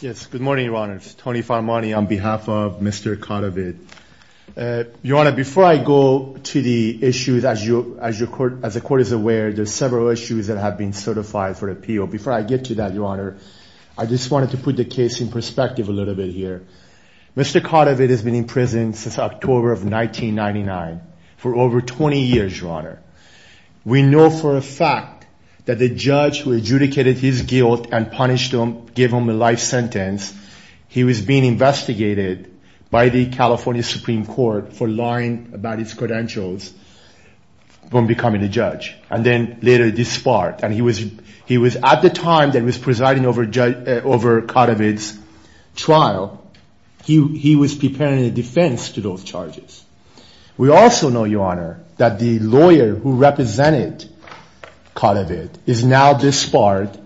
Yes, good morning, your honor. It's Tony Farmani on behalf of Mr. Cadavid. Your honor, before I go to the issues, as you, as your court, as the court is aware, there's several issues that have been certified for appeal. Before I get to that, your honor, I just wanted to put the case in perspective a little bit here. Mr. Cadavid has been in prison since October of 1999 for over 20 years, your honor. We know for a fact that the judge who adjudicated his guilt and punished him, gave him a life sentence, he was being investigated by the California Supreme Court for lying about his credentials when becoming a judge, and then later disbarred. And he was, he was at the time that was presiding over judge, over Cadavid's trial. He was preparing a defense to those charges. We also know, your honor, that the lawyer who represented Cadavid is now disbarred,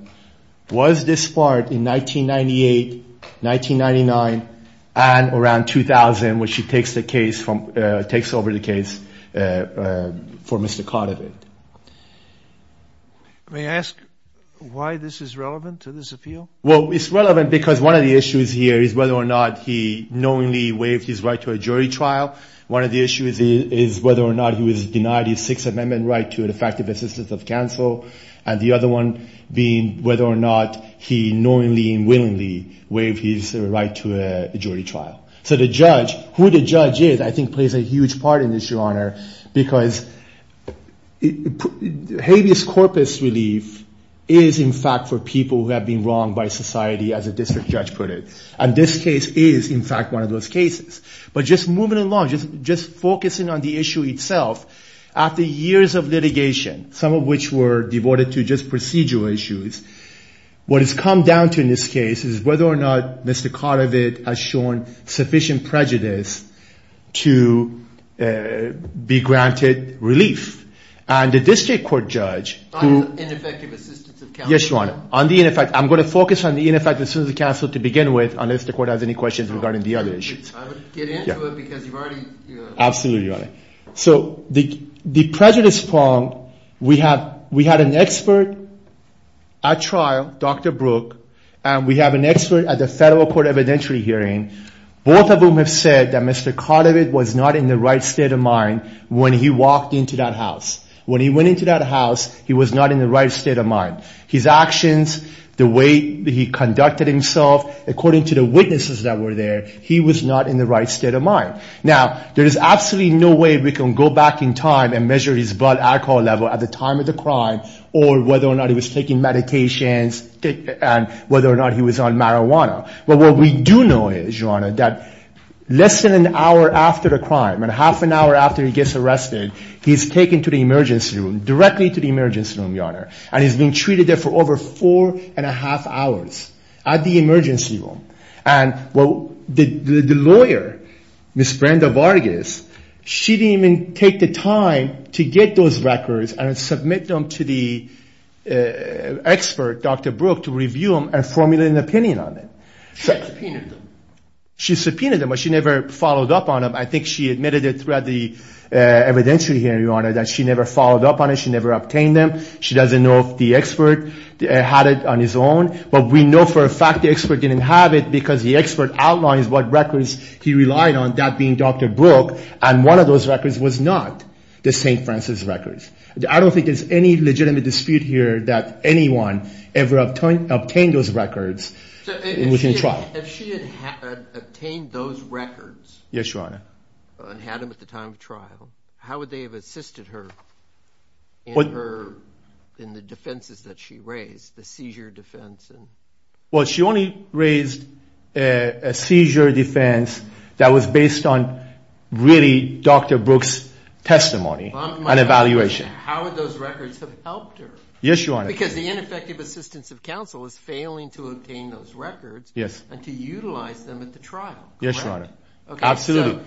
was disbarred in 1998, 1999, and around 2000, when she takes the case from, takes over the case for Mr. Cadavid. May I ask why this is relevant to this appeal? Well, it's relevant because one of the issues here is whether or not he knowingly waived his right to a jury trial. One of the issues is whether or not he was denied his Sixth Amendment right to an effective assistance of counsel. And the other one being whether or not he knowingly and willingly waived his right to a jury trial. So the judge, who the judge is, I think plays a huge part in this, your honor, because habeas corpus relief is in fact for people who have been wronged by society, as a district judge put it. And this case is in fact one of those cases. But just moving along, just focusing on the issue itself, after years of litigation, some of which were devoted to just procedural issues, what it's come down to in this case is whether or not Mr. Cadavid has shown sufficient prejudice to be granted relief. And the district court judge, who, yes, your honor, on the, in effect, I'm going to focus on the ineffective assistance of counsel to begin with, unless the court has any questions regarding the other issues. I would get into it because you've already, you know. Absolutely, your honor. So the prejudice prong, we have, we had an expert at trial, Dr. Brook, and we have an expert at the federal court evidentiary hearing. Both of whom have said that Mr. Cadavid was not in the right state of mind when he walked into that house. When he went into that house, he was not in the right state of mind. His actions, the way that he conducted himself, according to the witnesses that were there, he was not in the right state of mind. Now, there is absolutely no way we can go back in time and measure his blood alcohol level at the time of the crime or whether or not he was taking meditations and whether or not he was on marijuana. But what we do know is, your honor, that less than an hour after the crime and half an hour after he gets arrested, he's taken to the emergency room, directly to the emergency room, your honor. And he's been treated there for over four and a half hours at the emergency room. And the lawyer, Ms. Brenda Vargas, she didn't even take the time to get those records and submit them to the expert, Dr. Brook, to review them and formulate an opinion on them. She subpoenaed them. She subpoenaed them, but she never followed up on them. I think she admitted it throughout the evidentiary hearing, your honor, that she never followed up on it. She never obtained them. She doesn't know if the expert had it on his own. But we know for a fact the expert didn't have it because the expert outlines what records he relied on, that being Dr. Brook, and one of those records was not the St. Francis records. I don't think there's any legitimate dispute here that anyone ever obtained those records within trial. If she had obtained those records, your honor, and had them at the time of trial, how would they have assisted her in the defenses that she raised, the seizure defense? Well, she only raised a seizure defense that was based on really Dr. Brook's testimony and evaluation. How would those records have helped her? Yes, your honor. Because the ineffective assistance of counsel is failing to obtain those records and to utilize them at the trial. Yes, your honor. Absolutely.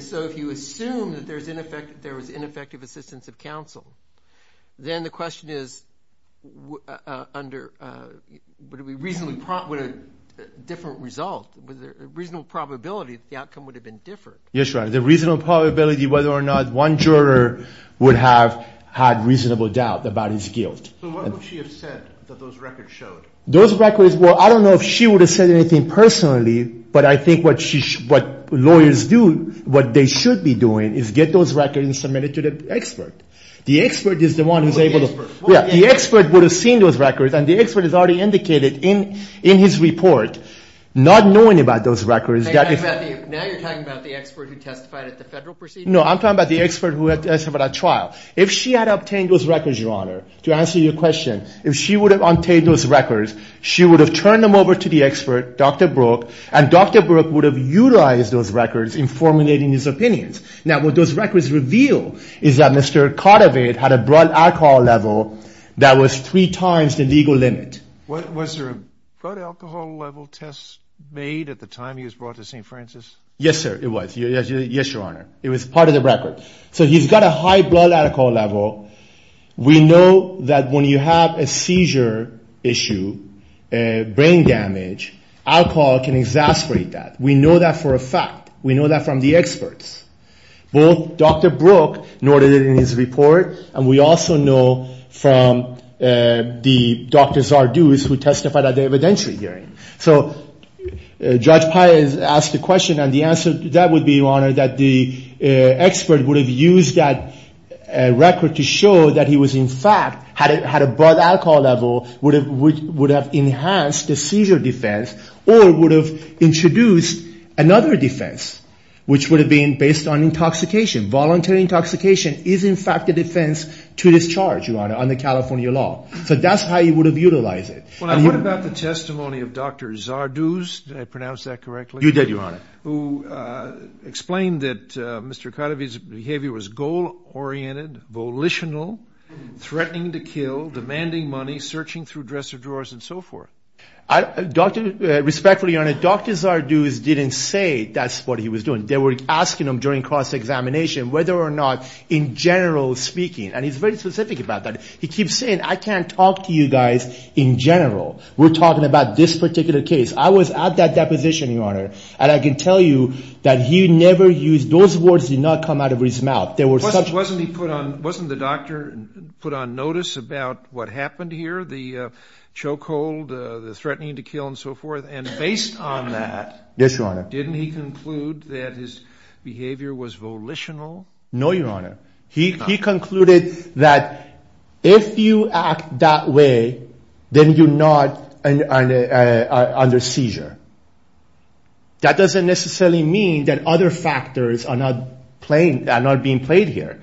So if you assume that there was ineffective assistance of counsel, then the question is, would it be a different result? With a reasonable probability that the outcome would have been different. Yes, your honor. The reasonable probability whether or not one juror would have had reasonable doubt about his guilt. So what would she have said that those records showed? Those records, well, I don't know if she would have said anything personally, but I think what lawyers do, what they should be doing, is get those records and submit it to the expert. The expert is the one who's able to, yeah, the expert would have seen those records and the expert has already indicated in his report, not knowing about those records. Now you're talking about the expert who testified at the federal proceedings? No, I'm talking about the expert who testified at trial. If she had obtained those records, your honor, to answer your question, if she would have obtained those records, she would have turned them over to the expert, Dr. Brook, and Dr. Brook would have utilized those records in formulating his opinions. Now what those records reveal is that Mr. Cotterveid had a blood alcohol level that was three times the legal limit. Was there a blood alcohol level test made at the time he was brought to St. Francis? Yes, sir, it was. Yes, your honor. It was part of the record. So he's got a high blood alcohol level. We know that when you have a seizure issue, brain damage, alcohol can exasperate that. We know that for a fact. We know that from the experts. Both Dr. Brook noted it in his report and we also know from the Dr. Zardoz who testified at the evidentiary hearing. So Judge Pai has asked the question and the answer to that would be, your honor, that the expert would have used that record to show that he was in fact had a blood alcohol level which would have enhanced the seizure defense or would have introduced another defense which would have been based on intoxication. Voluntary intoxication is in fact a defense to discharge, your honor, under California law. So that's how he would have utilized it. Well, now what about the testimony of Dr. Zardoz? Did I pronounce that correctly? You did, your honor. Who explained that Mr. Cuddeby's behavior was goal-oriented, volitional, threatening to kill, demanding money, searching through dresser drawers and so forth. I, Dr., respectfully, your honor, Dr. Zardoz didn't say that's what he was doing. They were asking him during cross-examination whether or not in general speaking, and he's very specific about that. He keeps saying, I can't talk to you guys in general. We're talking about this particular case. I was at that deposition, your honor, and I can tell you that he never used, those words did not come out of his mouth. There were such. Wasn't he put on, wasn't the doctor put on notice about what happened here, the choke hold, the threatening to kill and so forth? And based on that. Yes, your honor. Didn't he conclude that his behavior was volitional? No, your honor. He concluded that if you act that way, then you're not under seizure. That doesn't necessarily mean that other factors are not playing, are not being played here.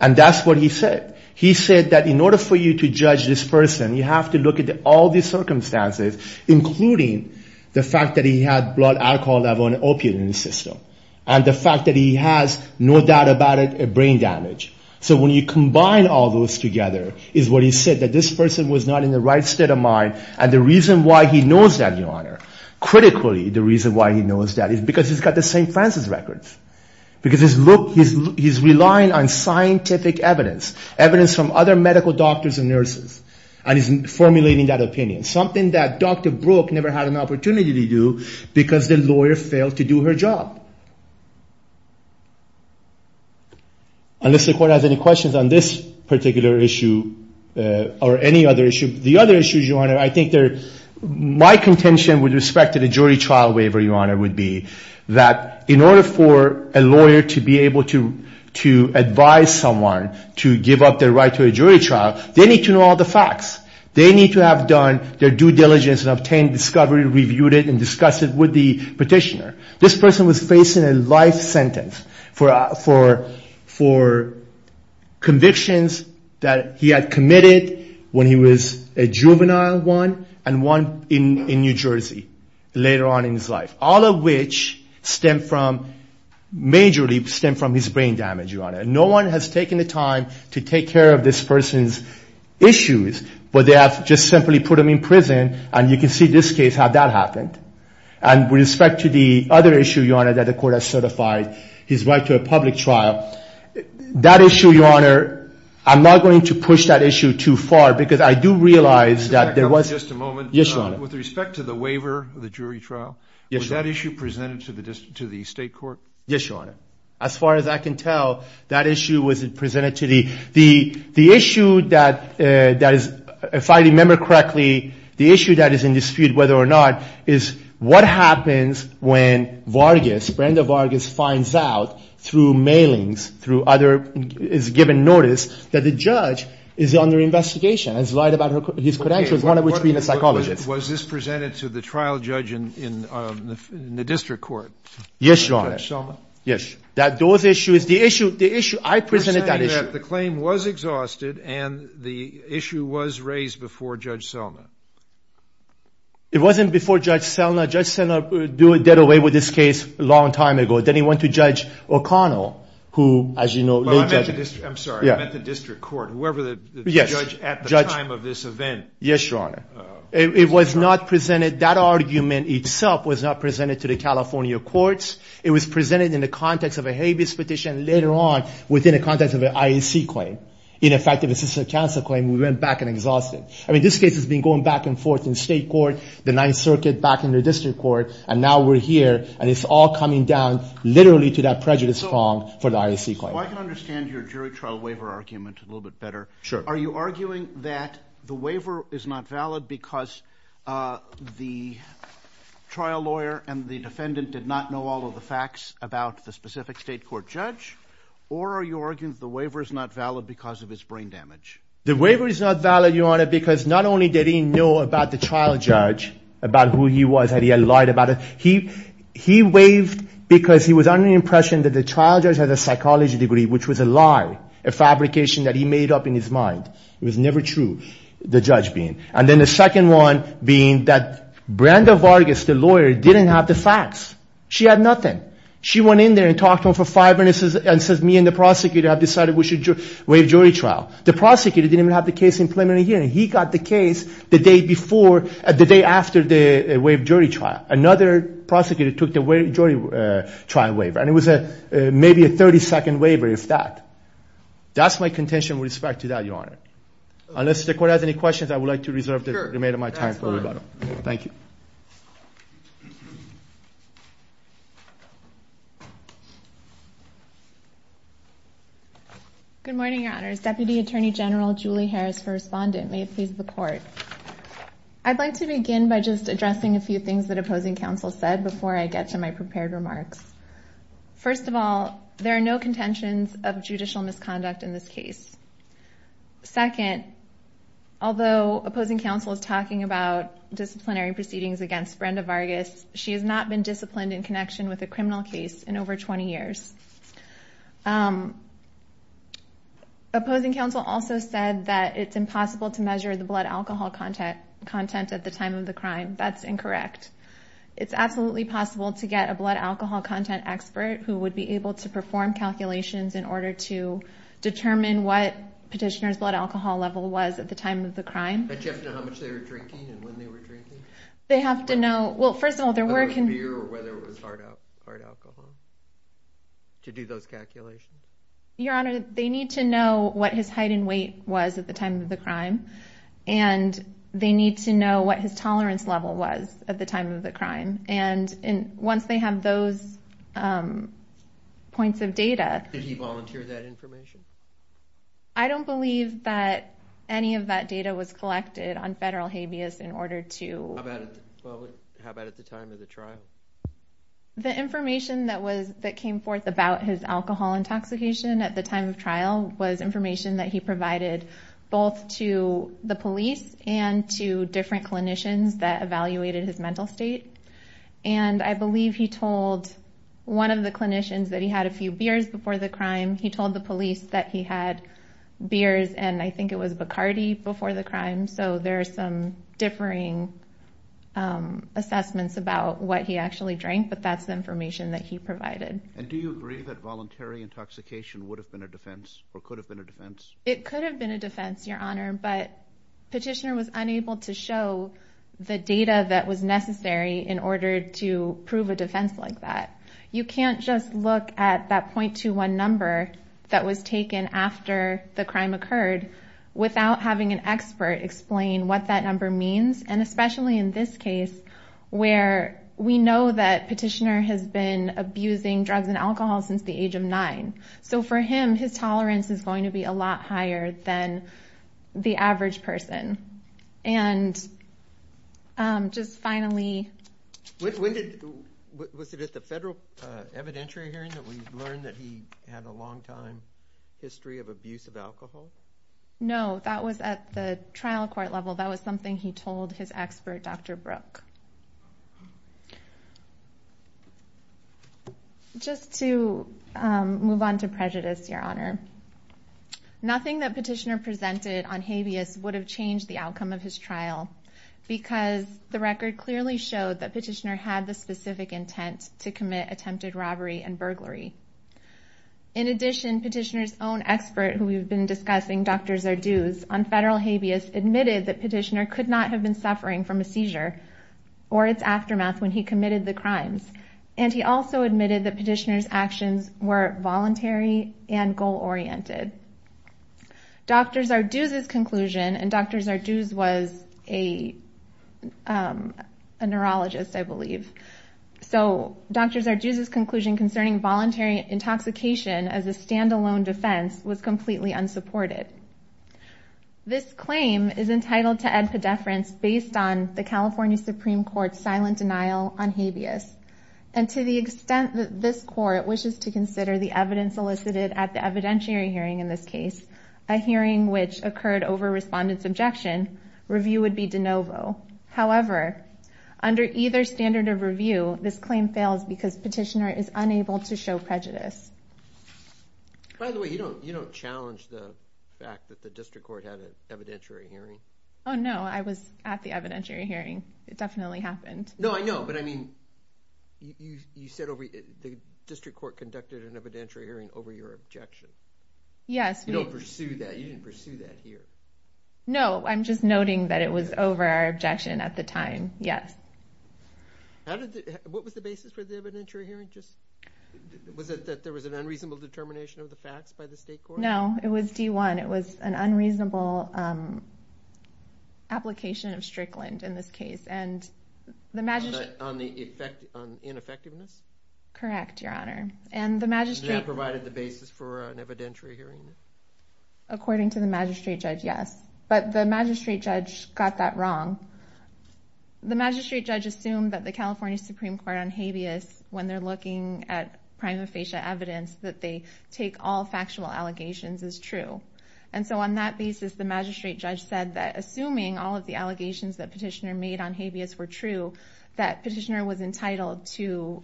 And that's what he said. He said that in order for you to judge this person, you have to look at all the circumstances, including the fact that he had blood alcohol level and opioid in the system. And the fact that he has, no doubt about it, a brain damage. So when you combine all those together is what he said, that this person was not in the right state of mind. And the reason why he knows that, your honor, critically, the reason why he knows that is because he's got the St. Francis records. Because his look, he's relying on scientific evidence, evidence from other medical doctors and nurses. And he's formulating that opinion. Something that Dr. Brooke never had an opportunity to do because the lawyer failed to do her job. Unless the court has any questions on this particular issue or any other issue. The other issue, your honor, I think there, my contention with respect to the jury trial waiver, your honor, would be that in order for a lawyer to be able to advise someone to give up their right to a jury trial, they need to know all the facts. They need to have done their due diligence and obtained discovery, reviewed it, and discussed it with the petitioner. This person was facing a life sentence for convictions that he had committed when he was a juvenile one and one in New Jersey later on in his life. All of which stem from, majorly stem from his brain damage, your honor. And no one has taken the time to take care of this person's issues, but they have just simply put him in prison. And you can see this case, how that happened. And with respect to the other issue, your honor, that the court has certified his right to a public trial, that issue, your honor, I'm not going to push that issue too far because I do realize that there was. Just a moment. Yes, your honor. With respect to the waiver of the jury trial, was that issue presented to the state court? Yes, your honor. As far as I can tell, that issue was presented to the, the issue that is, if I remember correctly, the issue that is in dispute, whether or not, is what happens when Vargas, Brenda Vargas, finds out through mailings, through other, is given notice that the judge is under investigation, has lied about his credentials, one of which being a psychologist. Was this presented to the trial judge in the district court? Yes, your honor. Judge Selma? Yes. That those issues, the issue, the issue, I presented that issue. In effect, the claim was exhausted and the issue was raised before Judge Selma. It wasn't before Judge Selma. Judge Selma did away with this case a long time ago. Then he went to Judge O'Connell, who, as you know, I'm sorry, I meant the district court. Whoever the judge at the time of this event. Yes, your honor. It was not presented, that argument itself was not presented to the California courts. It was presented in the context of a habeas petition later on, within the context of an IAC claim. In effect, it was a system of counsel claim. We went back and exhausted it. I mean, this case has been going back and forth in state court, the ninth circuit, back in the district court. And now we're here and it's all coming down literally to that prejudice prong for the IAC claim. So I can understand your jury trial waiver argument a little bit better. Sure. Are you arguing that the waiver is not valid because the trial lawyer and the defendant did not know all of the facts about the specific state court judge? Or are you arguing the waiver is not valid because of his brain damage? The waiver is not valid, your honor, because not only did he know about the trial judge, about who he was, that he had lied about it, he waived because he was under the impression that the trial judge had a psychology degree, which was a lie, a fabrication that he made up in his mind. It was never true, the judge being. And then the second one being that Brenda Vargas, the lawyer, didn't have the facts. She had nothing. She went in there and talked to him for five minutes and says, me and the prosecutor have decided we should waive jury trial. The prosecutor didn't even have the case in preliminary hearing. He got the case the day before, the day after they waived jury trial. Another prosecutor took the jury trial waiver. And it was maybe a 30-second waiver, if that. That's my contention with respect to that, your honor. Unless the court has any questions, I would like to reserve the remainder of my time for rebuttal. Thank you. Good morning, your honors. Deputy Attorney General Julie Harris for respondent. May it please the court. I'd like to begin by just addressing a few things that opposing counsel said before I get to my prepared remarks. First of all, there are no contentions of judicial misconduct in this case. Second, although opposing counsel is talking about disciplinary proceedings against Brenda Vargas, she has not been disciplined in connection with a criminal case in over 20 years. Opposing counsel also said that it's impossible to measure the blood alcohol content at the time of the crime. That's incorrect. It's absolutely possible to get a blood alcohol content expert who would be able to perform calculations in order to determine what petitioner's blood alcohol level was at the time of the crime. But do you have to know how much they were drinking and when they were drinking? They have to know. Well, first of all, there were... Beer or whether it was hard alcohol to do those calculations. Your honor, they need to know what his height and weight was at the time of the crime. And they need to know what his tolerance level was at the time of the crime. And once they have those points of data... Did he volunteer that information? I don't believe that any of that data was collected on federal habeas in order to... How about at the time of the trial? The information that came forth about his alcohol intoxication at the time of trial was information that he provided both to the police and to different clinicians that evaluated his mental state. And I believe he told one of the clinicians that he had a few beers before the crime. He told the police that he had beers and I think it was Bacardi before the crime. So there are some differing assessments about what he actually drank, but that's the information that he provided. And do you agree that voluntary intoxication would have been a defense or could have been a defense? It could have been a defense, your honor, but petitioner was unable to show the data that was necessary in order to prove a defense like that. You can't just look at that 0.21 number that was taken after the crime occurred without having an expert explain what that number means. And especially in this case, where we know that petitioner has been abusing drugs and alcohol since the age of nine. So for him, his tolerance is going to be a lot higher than the average person. And just finally... Was it at the federal evidentiary hearing that we learned that he had a long time history of abuse of alcohol? No, that was at the trial court level. That was something he told his expert, Dr. Brooke. Just to move on to prejudice, your honor. Nothing that petitioner presented on habeas would have changed the outcome of his trial because the record clearly showed that petitioner had the specific intent to commit attempted robbery and burglary. In addition, petitioner's own expert who we've been discussing, Dr. Zarduz, on federal habeas, admitted that petitioner could not have been suffering from a seizure or its aftermath when he committed the crimes. And he also admitted that petitioner's actions were voluntary and goal-oriented. Dr. Zarduz's conclusion, and Dr. Zarduz was a neurologist, I believe. So Dr. Zarduz's conclusion concerning voluntary intoxication as a standalone defense was completely unsupported. This claim is entitled to ad pedeference based on the California Supreme Court's silent denial on habeas. And to the extent that this court wishes to consider the evidence elicited at the evidentiary hearing in this case, a hearing which occurred over respondent's objection, review would be de novo. However, under either standard of review, this claim fails because petitioner is unable to show prejudice. By the way, you don't challenge the fact that the district court had an evidentiary hearing? Oh, no, I was at the evidentiary hearing. It definitely happened. No, I know, but I mean, you said the district court conducted an evidentiary hearing over your objection. Yes. You don't pursue that. You didn't pursue that here. No, I'm just noting that it was over our objection at the time, yes. What was the basis for the evidentiary hearing? Was it that there was an unreasonable determination of the facts by the state court? No, it was D-1. It was an unreasonable application of Strickland in this case. And the magistrate... On the ineffectiveness? Correct, Your Honor. And the magistrate... And that provided the basis for an evidentiary hearing? According to the magistrate judge, yes. But the magistrate judge got that wrong. The magistrate judge assumed that the California Supreme Court on habeas, when they're looking at prima facie evidence, that they take all factual allegations as true. And so on that basis, the magistrate judge said that assuming all of the allegations that Petitioner made on habeas were true, that Petitioner was entitled to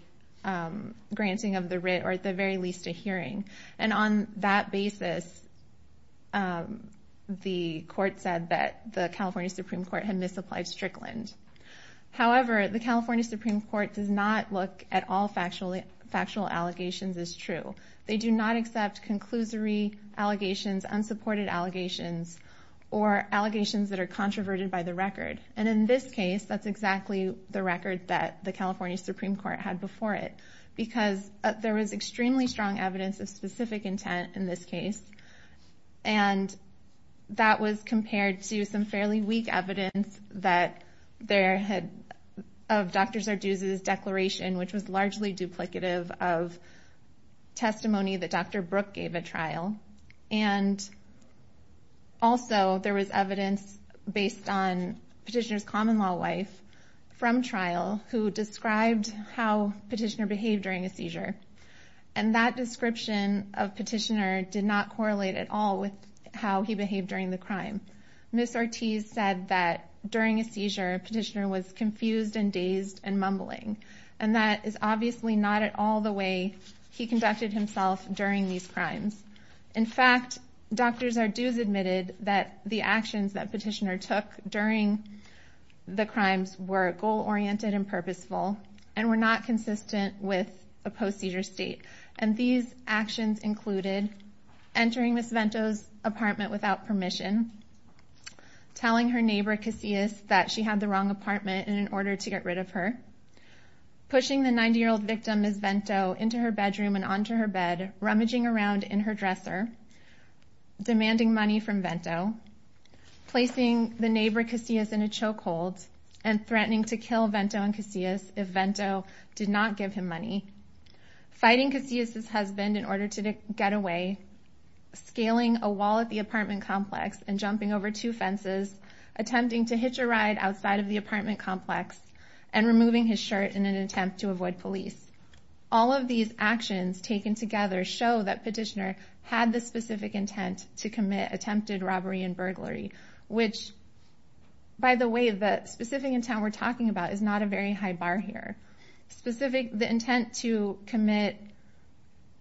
granting of the writ or at the very least a hearing. And on that basis, the court said that the California Supreme Court had misapplied Strickland. However, the California Supreme Court does not look at all factual allegations as true. They do not accept conclusory allegations, unsupported allegations or allegations that are controverted by the record. And in this case, that's exactly the record that the California Supreme Court had before it, because there was extremely strong evidence of specific intent in this case. And that was compared to some fairly weak evidence that there had of Dr. Sarduz's declaration, which was largely duplicative of testimony that Dr. Brooke gave a trial. And also there was evidence based on Petitioner's common law wife from trial who described how Petitioner behaved during a seizure. And that description of Petitioner did not correlate at all with how he behaved during the crime. Ms. Ortiz said that during a seizure, Petitioner was confused and dazed and mumbling. And that is obviously not at all the way he conducted himself during these crimes. In fact, Dr. Sarduz admitted that the actions that Petitioner took during the crimes were goal oriented and purposeful and were not consistent with a post-seizure state. And these actions included entering Ms. Telling her neighbor, Casillas, that she had the wrong apartment in order to get rid of her. Pushing the 90 year old victim, Ms. Vento, into her bedroom and onto her bed, rummaging around in her dresser. Demanding money from Vento. Placing the neighbor Casillas in a chokehold and threatening to kill Vento and Casillas if Vento did not give him money. Fighting Casillas' husband in order to get away. Scaling a wall at the apartment complex and jumping over two fences. Attempting to hitch a ride outside of the apartment complex and removing his shirt in an attempt to avoid police. All of these actions taken together show that Petitioner had the specific intent to commit attempted robbery and burglary, which. By the way, the specific intent we're talking about is not a very high bar here. Specific the intent to commit.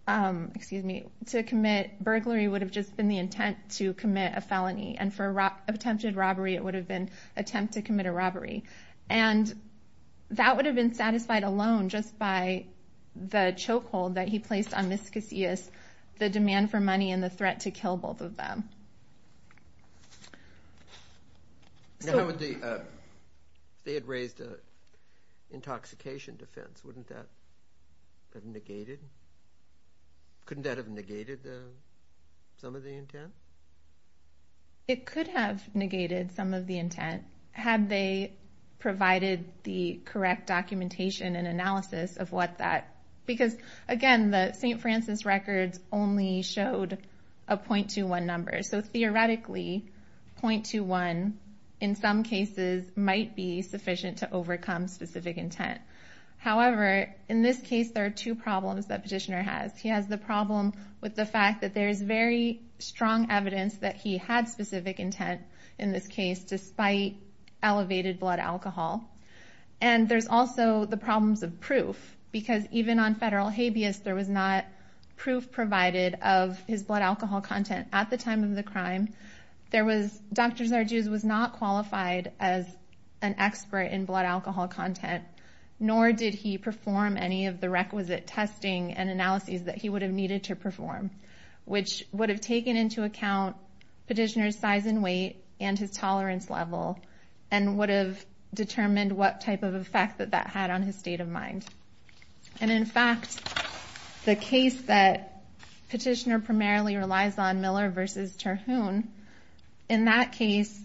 Um, excuse me, to commit burglary would have just been the intent to commit a felony and for attempted robbery, it would have been attempt to commit a robbery, and that would have been satisfied alone just by the chokehold that he placed on Ms. Casillas, the demand for money and the threat to kill both of them. Now, how would the, uh, they had raised a intoxication defense, wouldn't that have negated? Couldn't that have negated some of the intent? It could have negated some of the intent had they provided the correct documentation and analysis of what that because, again, the St. Francis records only showed a point to one number. So theoretically, point to one, in some cases, might be sufficient to overcome specific intent. However, in this case, there are two problems that petitioner has. He has the problem with the fact that there is very strong evidence that he had specific intent in this case, despite elevated blood alcohol. And there's also the problems of proof, because even on federal habeas, there was not proof provided of his blood alcohol content at the time of the crime. There was Dr. Zarduz was not qualified as an expert in blood alcohol content. Nor did he perform any of the requisite testing and analyses that he would have needed to perform, which would have taken into account petitioner's size and weight and his tolerance level, and would have determined what type of effect that that had on his state of mind. And in fact, the case that petitioner primarily relies on, Miller versus Terhune, in that case,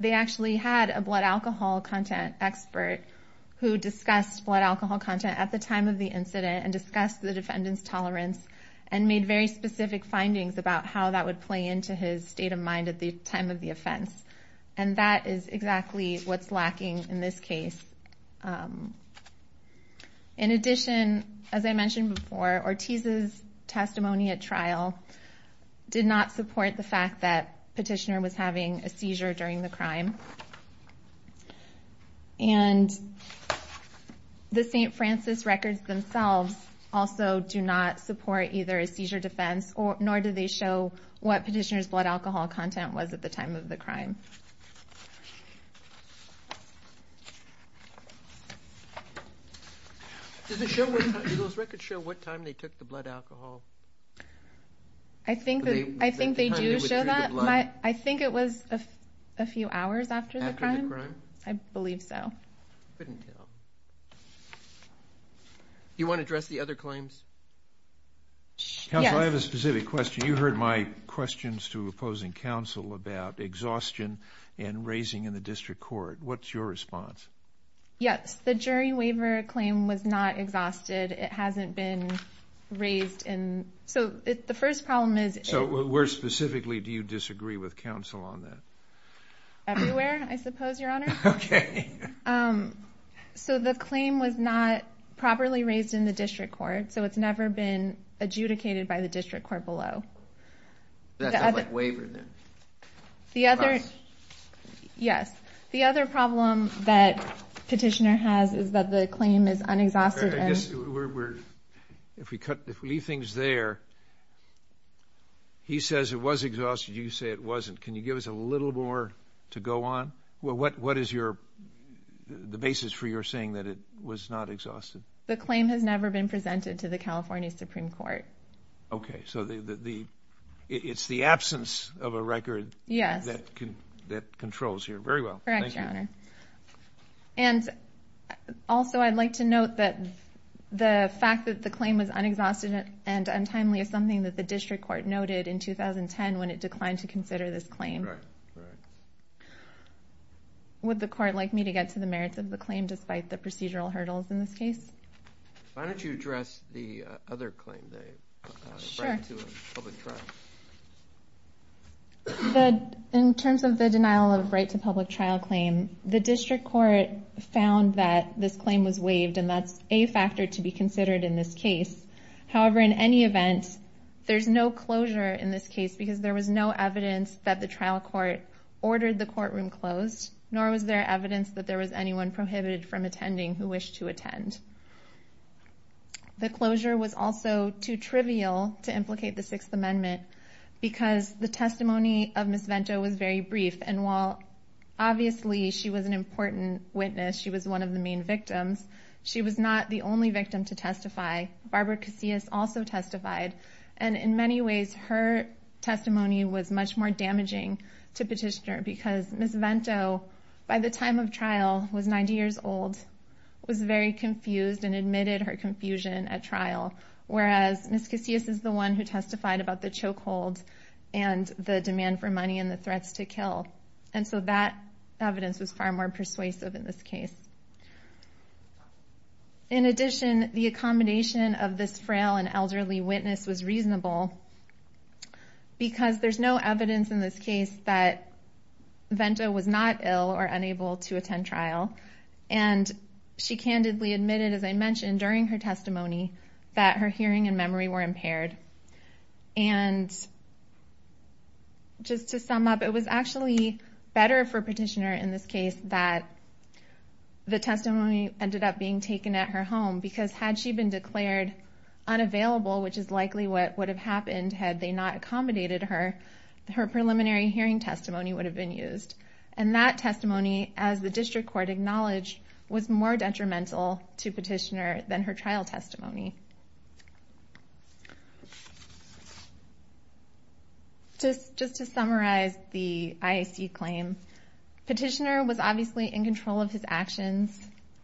they actually had a blood alcohol content expert who discussed blood alcohol content at the time of the incident and discussed the defendant's tolerance, and made very specific findings about how that would play into his state of mind at the time of the offense. And that is exactly what's lacking in this case. In addition, as I mentioned before, Ortiz's testimony at trial did not support the fact that petitioner was having a seizure during the crime. And the St. Francis records themselves also do not support either a seizure defense, nor do they show what petitioner's blood alcohol content was at the time of the crime. Does it show, do those records show what time they took the blood alcohol? I think that, I think they do show that, but I think it was a few hours after the crime. After the crime? I believe so. I couldn't tell. You want to address the other claims? Yes. Counsel, I have a specific question. You heard my questions to opposing counsel about exhaustion and raising in the district court. What's your response? Yes. The jury waiver claim was not exhausted. It hasn't been raised in, so the first problem is- So where specifically do you disagree with counsel on that? Everywhere, I suppose, your honor. Okay. So the claim was not properly raised in the district court, so it's never been adjudicated by the district court below. That's a waiver then? The other, yes. The other problem that petitioner has is that the claim is unexhausted and- I guess we're, if we cut, if we leave things there, he says it was exhausted. You say it wasn't. Can you give us a little more to go on? Well, what is your, the basis for your saying that it was not exhausted? The claim has never been presented to the California Supreme Court. Okay, so the, it's the absence of a record- Yes. That controls here. Very well. Correct, your honor. And also I'd like to note that the fact that the claim was unexhausted and untimely is something that the district court noted in 2010 when it declined to claim. Would the court like me to get to the merits of the claim, despite the procedural hurdles in this case? Why don't you address the other claim, the right to a public trial? In terms of the denial of right to public trial claim, the district court found that this claim was waived, and that's a factor to be considered in this case. However, in any event, there's no closure in this case, because there was no evidence that the trial court ordered the courtroom closed, nor was there evidence that there was anyone prohibited from attending who wished to attend. The closure was also too trivial to implicate the Sixth Amendment, because the testimony of Ms. Vento was very brief. And while, obviously, she was an important witness, she was one of the main victims, she was not the only victim to testify. Barbara Casillas also testified. And in many ways, her testimony was much more damaging to petitioner, because Ms. Vento, by the time of trial, was 90 years old, was very confused and admitted her confusion at trial. Whereas Ms. Casillas is the one who testified about the chokehold and the demand for money and the threats to kill. And so that evidence was far more persuasive in this case. In addition, the accommodation of this frail and elderly witness was reasonable, because there's no evidence in this case that Vento was not ill or unable to attend trial. And she candidly admitted, as I mentioned, during her testimony, that her hearing and memory were impaired. And just to sum up, it was actually better for petitioner in this case that the testimony ended up being taken at her home. Because had she been declared unavailable, which is likely what would have happened had they not accommodated her, her preliminary hearing testimony would have been used. And that testimony, as the district court acknowledged, was more detrimental to petitioner than her trial testimony. Just to summarize the IAC claim, petitioner was obviously in control of his actions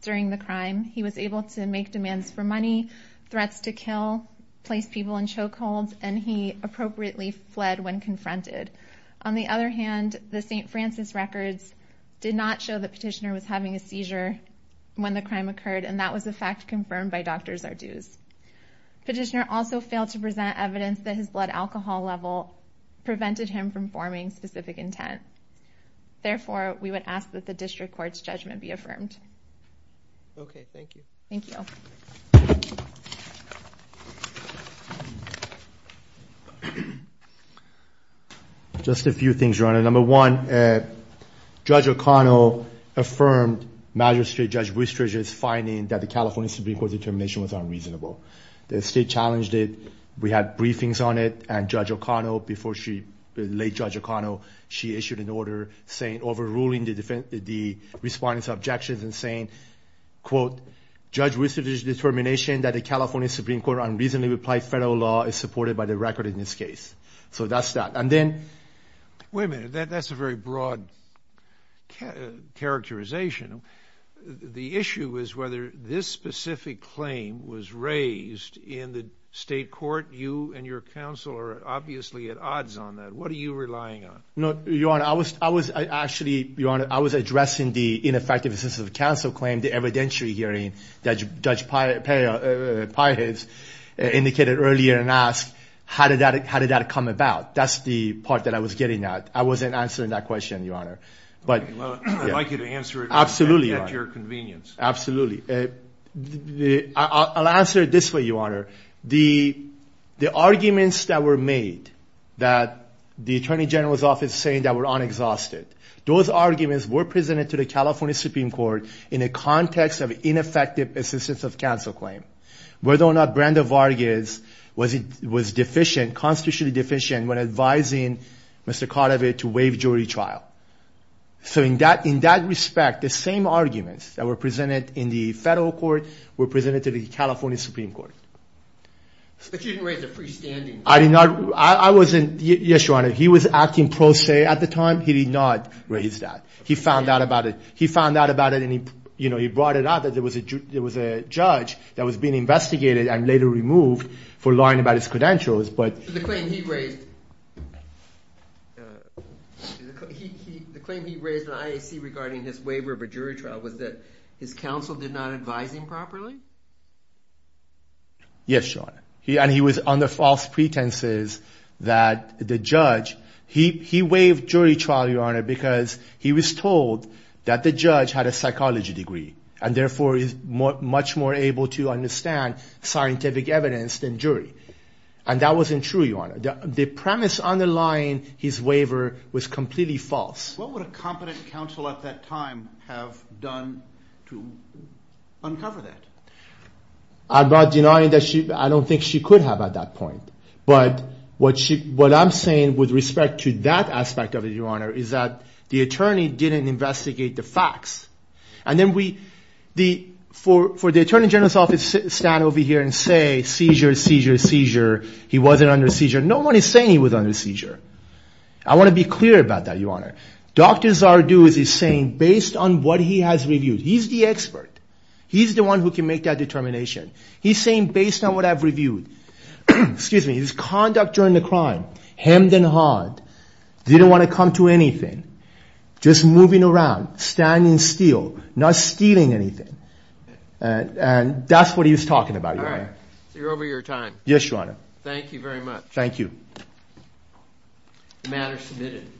during the crime. He was able to make demands for money, threats to kill, place people in chokeholds, and he appropriately fled when confronted. On the other hand, the St. Francis records did not show that petitioner was having a seizure when the crime occurred, and that was a fact confirmed by Dr. Zarduz. Petitioner also failed to present evidence that his blood alcohol level prevented him from forming specific intent. Therefore, we would ask that the district court's judgment be affirmed. Okay, thank you. Thank you. Just a few things, Your Honor. Number one, Judge O'Connell affirmed Magistrate Judge Boothridge's finding that the California Supreme Court determination was unreasonable. The state challenged it. We had briefings on it, and Judge O'Connell, before she, the late Judge O'Connell, she issued an order saying, overruling the defendant, the respondent's objections and saying, quote, Judge Boothridge's determination that the California Supreme Court unreasonably replied federal law is supported by the record in this case. So that's that. And then, wait a minute, that's a very broad characterization. The issue is whether this specific claim was raised in the state court. You and your counsel are obviously at odds on that. What are you relying on? No, Your Honor, I was, I was, I actually, Your Honor, I was addressing the ineffective assistance of counsel claim, the evidentiary hearing that Judge Piah, Piah, Piah has indicated earlier and asked, how did that, how did that come about? That's the part that I was getting at. I wasn't answering that question, Your Honor. But- Well, I'd like you to answer it. At your convenience. Absolutely, I'll answer it this way, Your Honor. The, the arguments that were made that the Attorney General's office saying that we're unexhausted. Those arguments were presented to the California Supreme Court in a context of ineffective assistance of counsel claim. Whether or not Brenda Vargas was, was deficient, constitutionally deficient when advising Mr. Cordova to waive jury trial. So in that, in that respect, the same arguments that were presented in the federal court were presented to the California Supreme Court. But you didn't raise the freestanding. I did not, I, I wasn't, yes, Your Honor, he was acting pro se at the time. He did not raise that. He found out about it. He found out about it and he, you know, he brought it out that there was a ju, there was a judge that was being investigated and later removed for lying about his credentials, but. The claim he raised, he, he, the claim he raised in the IAC regarding his waiver of a jury trial was that his counsel did not advise him properly? Yes, Your Honor. He, and he was under false pretenses that the judge, he, he waived jury trial, Your Honor, because he was told that the judge had a psychology degree. And therefore is more, much more able to understand scientific evidence than jury. And that wasn't true, Your Honor. The premise underlying his waiver was completely false. What would a competent counsel at that time have done to uncover that? I'm not denying that she, I don't think she could have at that point. But what she, what I'm saying with respect to that aspect of it, Your Honor, is that the attorney didn't investigate the facts. And then we, the, for, for the attorney general's office to stand over here and say, seizure, seizure, seizure, he wasn't under seizure. No one is saying he was under seizure. I want to be clear about that, Your Honor. Dr. Zarduz is saying, based on what he has reviewed, he's the expert. He's the one who can make that determination. He's saying, based on what I've reviewed, excuse me, his conduct during the crime, hemmed and hawed, didn't want to come to anything, just moving around, standing still, not stealing anything, and, and that's what he was talking about. So you're over your time. Yes, Your Honor. Thank you very much. Thank you. Matter submitted.